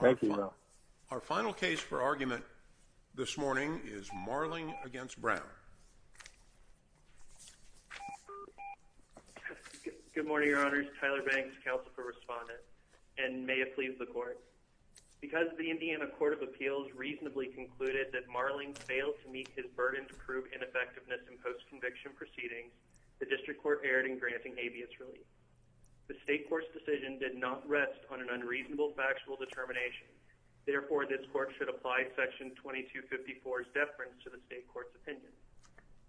Thank you. Our final case for argument this morning is Marling v. Brown. Good morning, Your Honors. Tyler Banks, Counsel for Respondent, and may it please the Court. Because the Indiana Court of Appeals reasonably concluded that Marling failed to meet his burden to prove ineffectiveness in post-conviction proceedings, the District Court erred in granting habeas relief. The State Court's decision did not rest on an unreasonable factual determination. Therefore, this Court should apply Section 2254's deference to the State Court's opinion.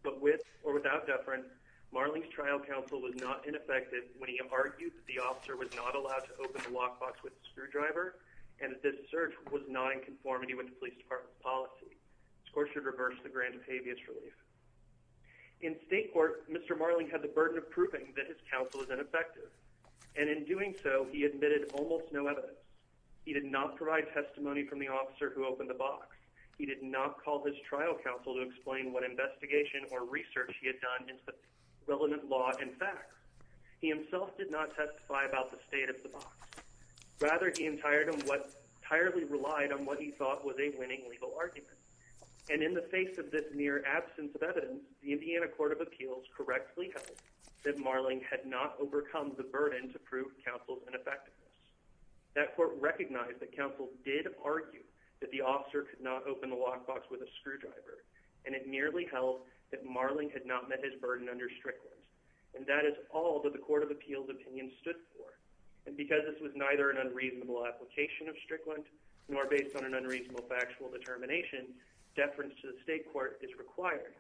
But with or without deference, Marling's trial counsel was not ineffective when he argued that the officer was not allowed to open the lockbox with a screwdriver and that this assertion was not in conformity with the Police Department's policy. This Court should reverse the grant of habeas relief. In State Court, Mr. Marling had the burden of proving that his counsel was ineffective, and in doing so, he admitted almost no evidence. He did not provide testimony from the officer who opened the box. He did not call his trial counsel to explain what investigation or research he had done into the relevant law and facts. He himself did not testify about the state of the box. Rather, he entirely relied on what he thought was a winning legal argument. And in the face of this near absence of evidence, the Indiana Court of Appeals correctly held that Marling had not overcome the burden to prove counsel's ineffectiveness. That Court recognized that counsel did argue that the officer could not open the lockbox with a screwdriver, and it merely held that Marling had not met his burden under Strickland. And that is all that the Court of Appeals' opinion stood for. And because this was neither an unreasonable application of Strickland, nor based on an unreasonable factual determination, deference to the State Court is required.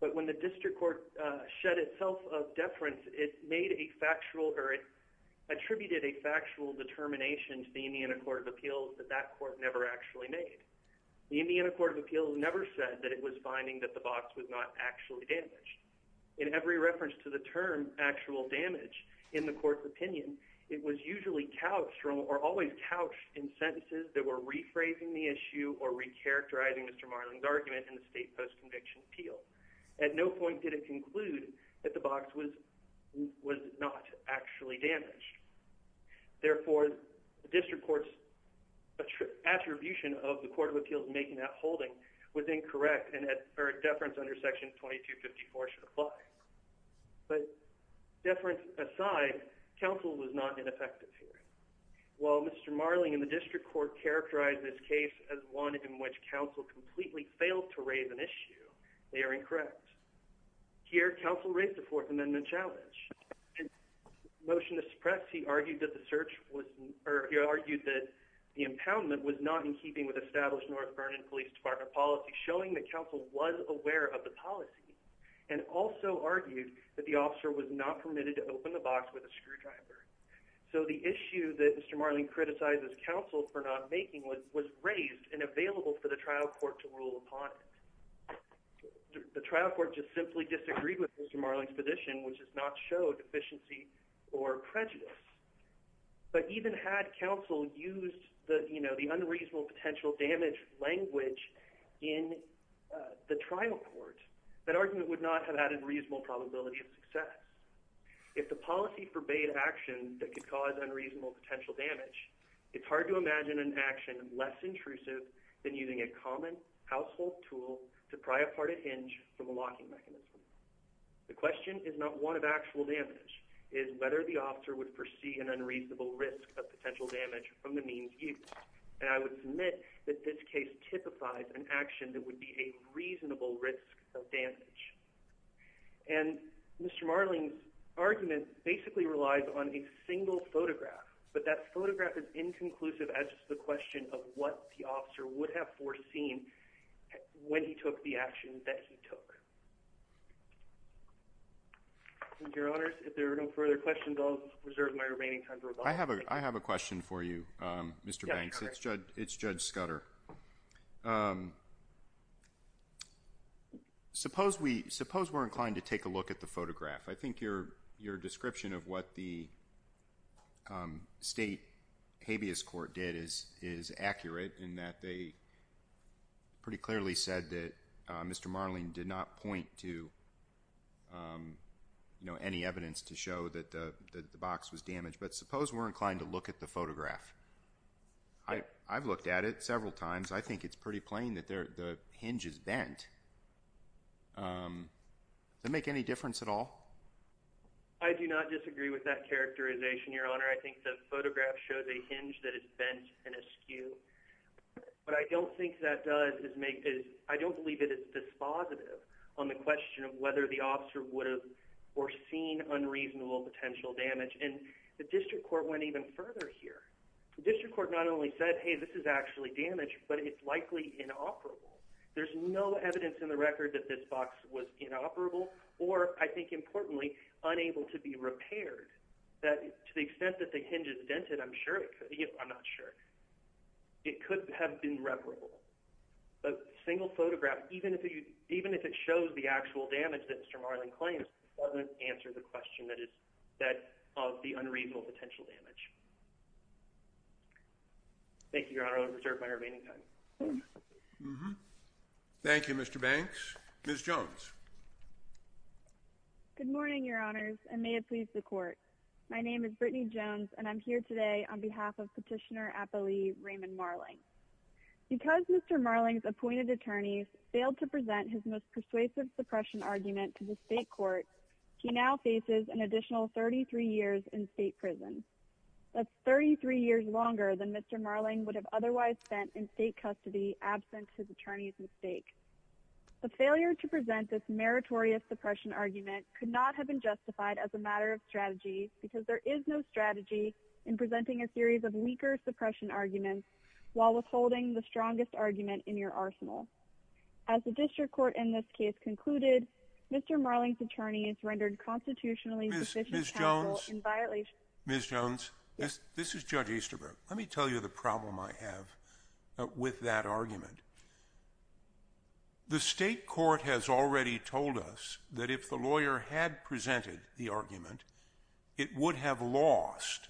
But when the District Court shed itself of deference, it attributed a factual determination to the Indiana Court of Appeals that that Court never actually made. The Indiana Court of Appeals never said that it was finding that the box was not actually damaged. In every reference to the term actual damage in the Court's opinion, it was usually couched or always couched in sentences that were rephrasing the issue or recharacterizing Mr. Marling's argument in the state post-conviction appeal. At no point did it conclude that the box was not actually damaged. Therefore, the District Court's attribution of the Court of Appeals making that holding was incorrect, and deference under Section 2254 should apply. But deference aside, counsel was not ineffective here. While Mr. Marling and the District Court characterized this case as one in which counsel completely failed to raise an issue, they are incorrect. Here, counsel raised a Fourth Amendment challenge. In motion to suppress, he argued that the search was—er, he argued that the impoundment was not in keeping with established North Vernon Police Department policy, showing that counsel was aware of the policy, and also argued that the officer was not permitted to open the box with a screwdriver. So the issue that Mr. Marling criticized as counsel for not making was raised and available for the trial court to rule upon it. The trial court just simply disagreed with Mr. Marling's position, which does not show deficiency or prejudice. But even had counsel used the unreasonable potential damage language in the trial court, that argument would not have had a reasonable probability of success. If the policy forbade actions that could cause unreasonable potential damage, it's hard to imagine an action less intrusive than using a common household tool to pry apart a hinge from a locking mechanism. The question is not one of actual damage, it is whether the officer would foresee an unreasonable risk of potential damage from the means used, and I would submit that this case typifies an action that would be a reasonable risk of damage. And Mr. Marling's argument basically relies on a single photograph, but that photograph is inconclusive as to the question of what the officer would have foreseen when he took the action that he took. Your Honors, if there are no further questions, I'll reserve my remaining time for rebuttal. I have a question for you, Mr. Banks. It's Judge Scudder. Suppose we're inclined to take a look at the photograph. I think your description of what the state habeas court did is accurate in that they pretty clearly said that Mr. Marling did not point to any evidence to show that the box was damaged. But suppose we're inclined to look at the photograph. I've looked at it several times. I think it's pretty plain that the hinge is bent. Does that make any difference at all? I do not disagree with that characterization, Your Honor. I think the photograph shows a hinge that is bent and askew. What I don't think that does is make it – I don't believe that it's dispositive on the question of whether the officer would have foreseen unreasonable potential damage. The district court went even further here. The district court not only said, hey, this is actually damaged, but it's likely inoperable. There's no evidence in the record that this box was inoperable or, I think importantly, unable to be repaired. To the extent that the hinge is dented, I'm not sure. It could have been reparable. But a single photograph, even if it shows the actual damage that Mr. Marling claims, doesn't answer the question of the unreasonable potential damage. Thank you, Your Honor. I will reserve my remaining time. Thank you, Mr. Banks. Ms. Jones. Good morning, Your Honors, and may it please the Court. My name is Brittany Jones, and I'm here today on behalf of Petitioner Appellee Raymond Marling. Because Mr. Marling's appointed attorneys failed to present his most persuasive suppression argument to the state court, he now faces an additional 33 years in state prison. That's 33 years longer than Mr. Marling would have otherwise spent in state custody absent his attorney's mistake. The failure to present this meritorious suppression argument could not have been justified as a matter of strategy, because there is no strategy in presenting a series of weaker suppression arguments while withholding the strongest argument in your arsenal. As the district court in this case concluded, Mr. Marling's attorneys rendered constitutionally sufficient counsel in violation of the statute. Ms. Jones. Ms. Jones. Yes. This is Judge Easterbrook. Let me tell you the problem I have with that argument. The state court has already told us that if the lawyer had presented the argument, it would have lost.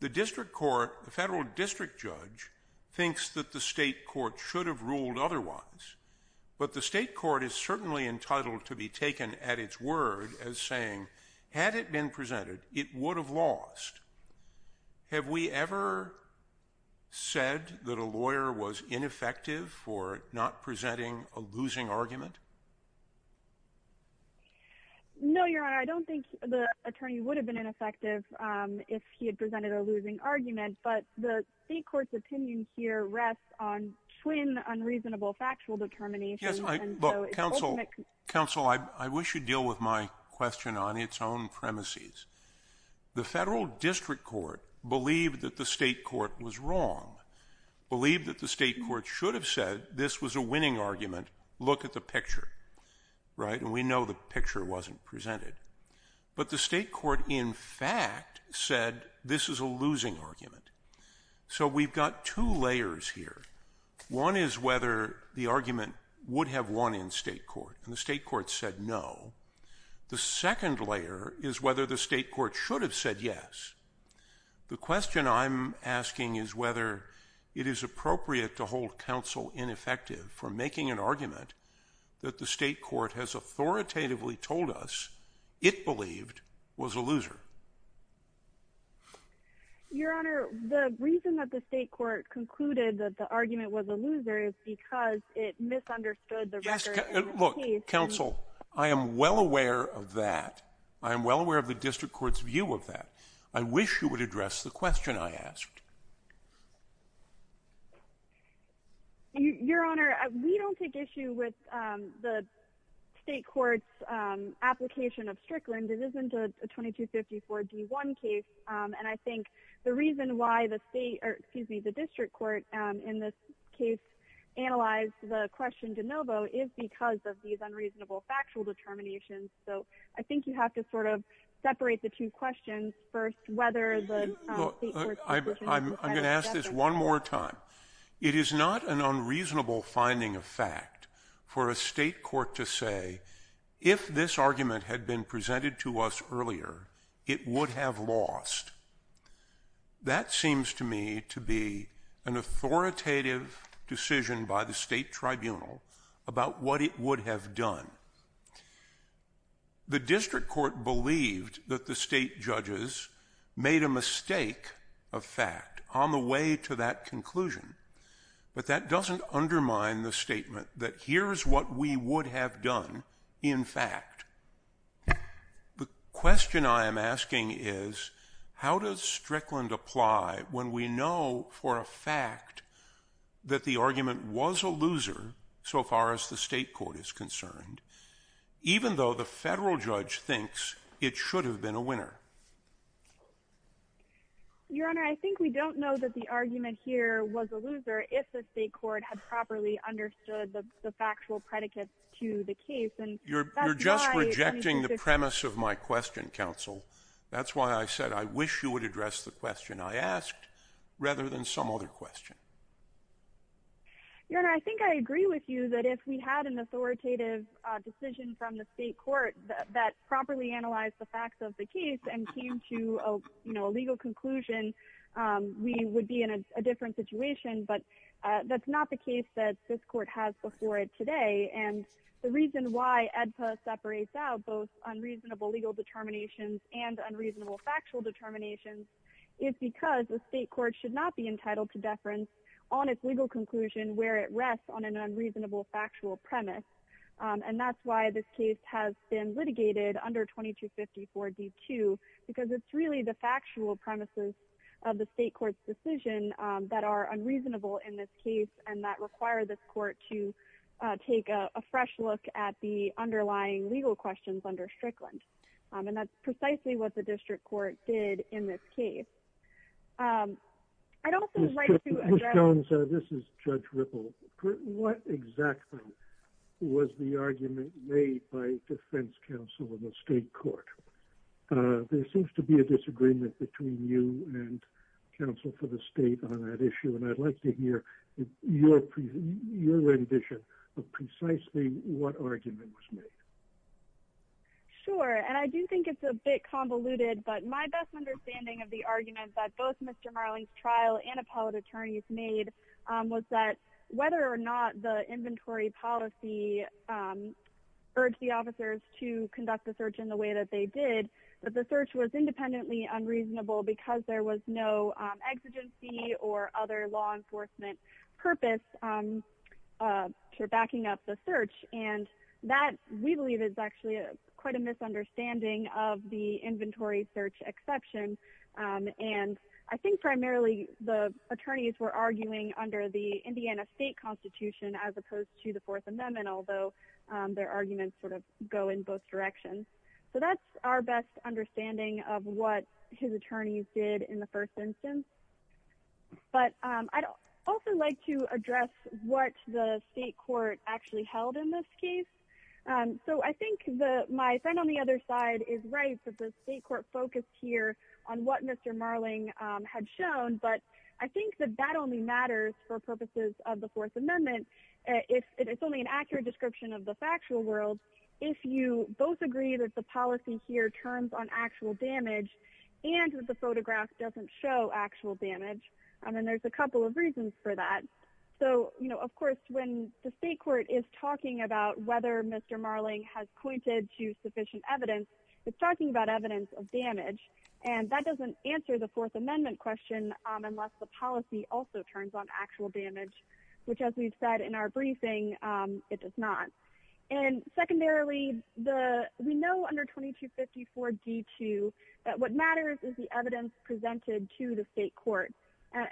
The district court, the federal district judge, thinks that the state court should have ruled otherwise. But the state court is certainly entitled to be taken at its word as saying, had it been presented, it would have lost. Have we ever said that a lawyer was ineffective for not presenting a losing argument? No, Your Honor. I don't think the attorney would have been ineffective if he had presented a losing argument. But the state court's opinion here rests on twin unreasonable factual determinations. Counsel, I wish you'd deal with my question on its own premises. The federal district court believed that the state court was wrong, believed that the state court should have said this was a winning argument. Look at the picture. Right. And we know the picture wasn't presented. But the state court, in fact, said this is a losing argument. So we've got two layers here. One is whether the argument would have won in state court. And the state court said no. The second layer is whether the state court should have said yes. The question I'm asking is whether it is appropriate to hold counsel ineffective for making an argument that the state court has authoritatively told us it believed was a loser. Your Honor, the reason that the state court concluded that the argument was a loser is because it misunderstood the record. Look, counsel, I am well aware of that. I am well aware of the district court's view of that. I wish you would address the question I asked. Your Honor, we don't take issue with the state court's application of Strickland. It isn't a 2254 D1 case. And I think the reason why the state or, excuse me, the district court in this case analyzed the question de novo is because of these unreasonable factual determinations. So I think you have to sort of separate the two questions. First, whether the state court's decision to say yes or no. I'm going to ask this one more time. It is not an unreasonable finding of fact for a state court to say if this argument had been presented to us earlier, it would have lost. That seems to me to be an authoritative decision by the state tribunal about what it would have done. The district court believed that the state judges made a mistake of fact on the way to that conclusion. But that doesn't undermine the statement that here is what we would have done in fact. The question I am asking is, how does Strickland apply when we know for a fact that the argument was a loser so far as the state court is concerned, even though the federal judge thinks it should have been a winner? Your Honor, I think we don't know that the argument here was a loser if the state court had properly understood the factual predicates to the case. You're just rejecting the premise of my question, counsel. That's why I said I wish you would address the question I asked rather than some other question. Your Honor, I think I agree with you that if we had an authoritative decision from the state court that properly analyzed the facts of the case and came to a legal conclusion, we would be in a different situation. But that's not the case that this court has before it today. And the reason why AEDPA separates out both unreasonable legal determinations and unreasonable factual determinations is because the state court should not be entitled to deference on its legal conclusion where it rests on an unreasonable factual premise. And that's why this case has been litigated under 2254 D2, because it's really the factual premises of the state court's decision that are unreasonable in this case and that require this court to take a fresh look at the underlying legal questions under Strickland. And that's precisely what the district court did in this case. I'd also like to address- Ms. Jones, this is Judge Ripple. What exactly was the argument made by defense counsel in the state court? There seems to be a disagreement between you and counsel for the state on that issue, and I'd like to hear your rendition of precisely what argument was made. Sure, and I do think it's a bit convoluted, but my best understanding of the argument that both Mr. Marling's trial and appellate attorneys made was that whether or not the inventory policy urged the officers to conduct the search in the way that they did, that the search was independently unreasonable because there was no exigency or other law enforcement purpose to backing up the search. And that, we believe, is actually quite a misunderstanding of the inventory search exception. And I think primarily the attorneys were arguing under the Indiana State Constitution as opposed to the Fourth Amendment, although their arguments sort of go in both directions. So that's our best understanding of what his attorneys did in the first instance. But I'd also like to address what the state court actually held in this case. So I think my friend on the other side is right that the state court focused here on what Mr. Marling had shown, but I think that that only matters for purposes of the Fourth Amendment. It's only an accurate description of the factual world if you both agree that the policy here turns on actual damage and that the photograph doesn't show actual damage. I mean, there's a couple of reasons for that. So, you know, of course, when the state court is talking about whether Mr. Marling has pointed to sufficient evidence, it's talking about evidence of damage. And that doesn't answer the Fourth Amendment question unless the policy also turns on actual damage, which as we've said in our briefing, it does not. And secondarily, we know under 2254 D2 that what matters is the evidence presented to the state court.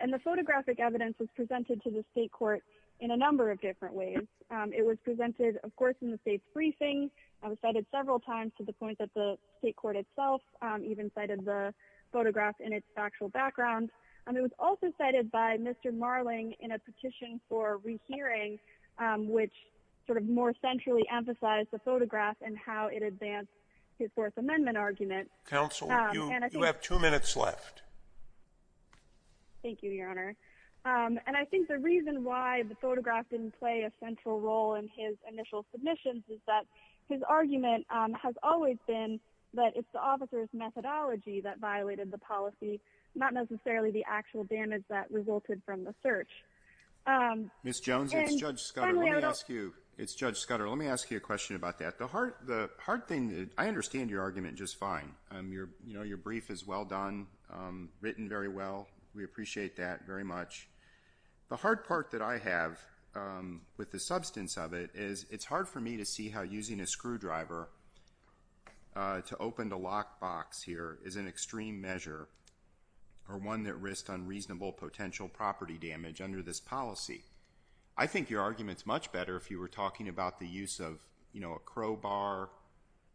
And the photographic evidence was presented to the state court in a number of different ways. It was presented, of course, in the state's briefing. It was cited several times to the point that the state court itself even cited the photograph in its factual background. And it was also cited by Mr. Marling in a petition for rehearing, which sort of more centrally emphasized the photograph and how it advanced his Fourth Amendment argument. Counsel, you have two minutes left. Thank you, Your Honor. And I think the reason why the photograph didn't play a central role in his initial submissions is that his argument has always been that it's the officer's methodology that violated the policy, not necessarily the actual damage that resulted from the search. Ms. Jones, it's Judge Scudder. Let me ask you. It's Judge Scudder. Let me ask you a question about that. The hard thing, I understand your argument just fine. You know, your brief is well done, written very well. We appreciate that very much. The hard part that I have with the substance of it is it's hard for me to see how using a screwdriver to open the lockbox here is an extreme measure or one that risks unreasonable potential property damage under this policy. I think your argument's much better if you were talking about the use of, you know, a crowbar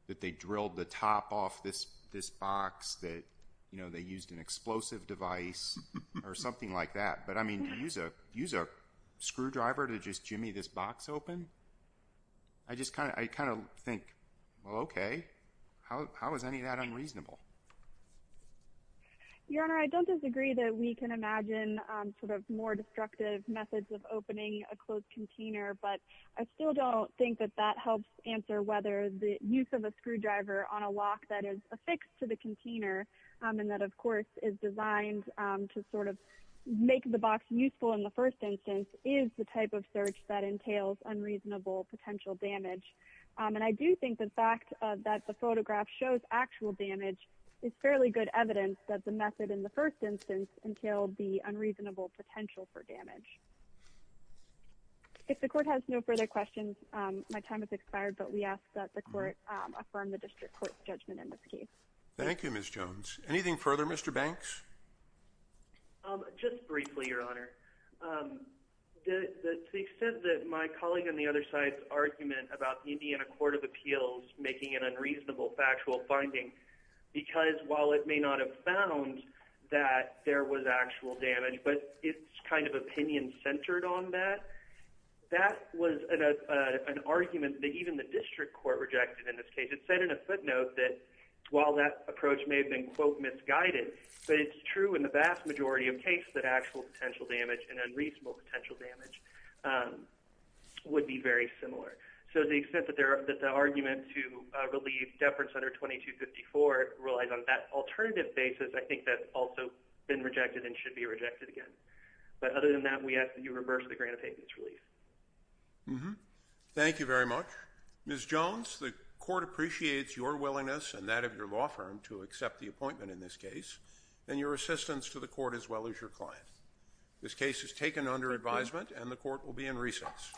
that they drilled the top off this box that, you know, they used an explosive device or something like that. But, I mean, to use a screwdriver to just jimmy this box open, I just kind of think, well, okay. How is any of that unreasonable? Your Honor, I don't disagree that we can imagine sort of more destructive methods of opening a closed container. But I still don't think that that helps answer whether the use of a screwdriver on a lock that is affixed to the container and that, of course, is designed to sort of make the box useful in the first instance is the type of search that entails unreasonable potential damage. And I do think the fact that the photograph shows actual damage is fairly good evidence that the method in the first instance entailed the unreasonable potential for damage. If the court has no further questions, my time has expired, but we ask that the court affirm the district court's judgment in this case. Thank you, Ms. Jones. Anything further, Mr. Banks? Just briefly, Your Honor, to the extent that my colleague on the other side's argument about Indiana Court of Appeals making an unreasonable factual finding, because while it may not have found that there was actual damage, but it's kind of opinion-centered on that, that was an argument that even the district court rejected in this case. It said in a footnote that while that approach may have been, quote, misguided, but it's true in the vast majority of cases that actual potential damage and unreasonable potential damage would be very similar. So to the extent that the argument to relieve deference under 2254 relies on that alternative basis, I think that's also been rejected and should be rejected again. But other than that, we ask that you reverse the grant of payments relief. Thank you very much. Ms. Jones, the court appreciates your willingness and that of your law firm to accept the appointment in this case, and your assistance to the court as well as your client. This case is taken under advisement and the court will be in recess.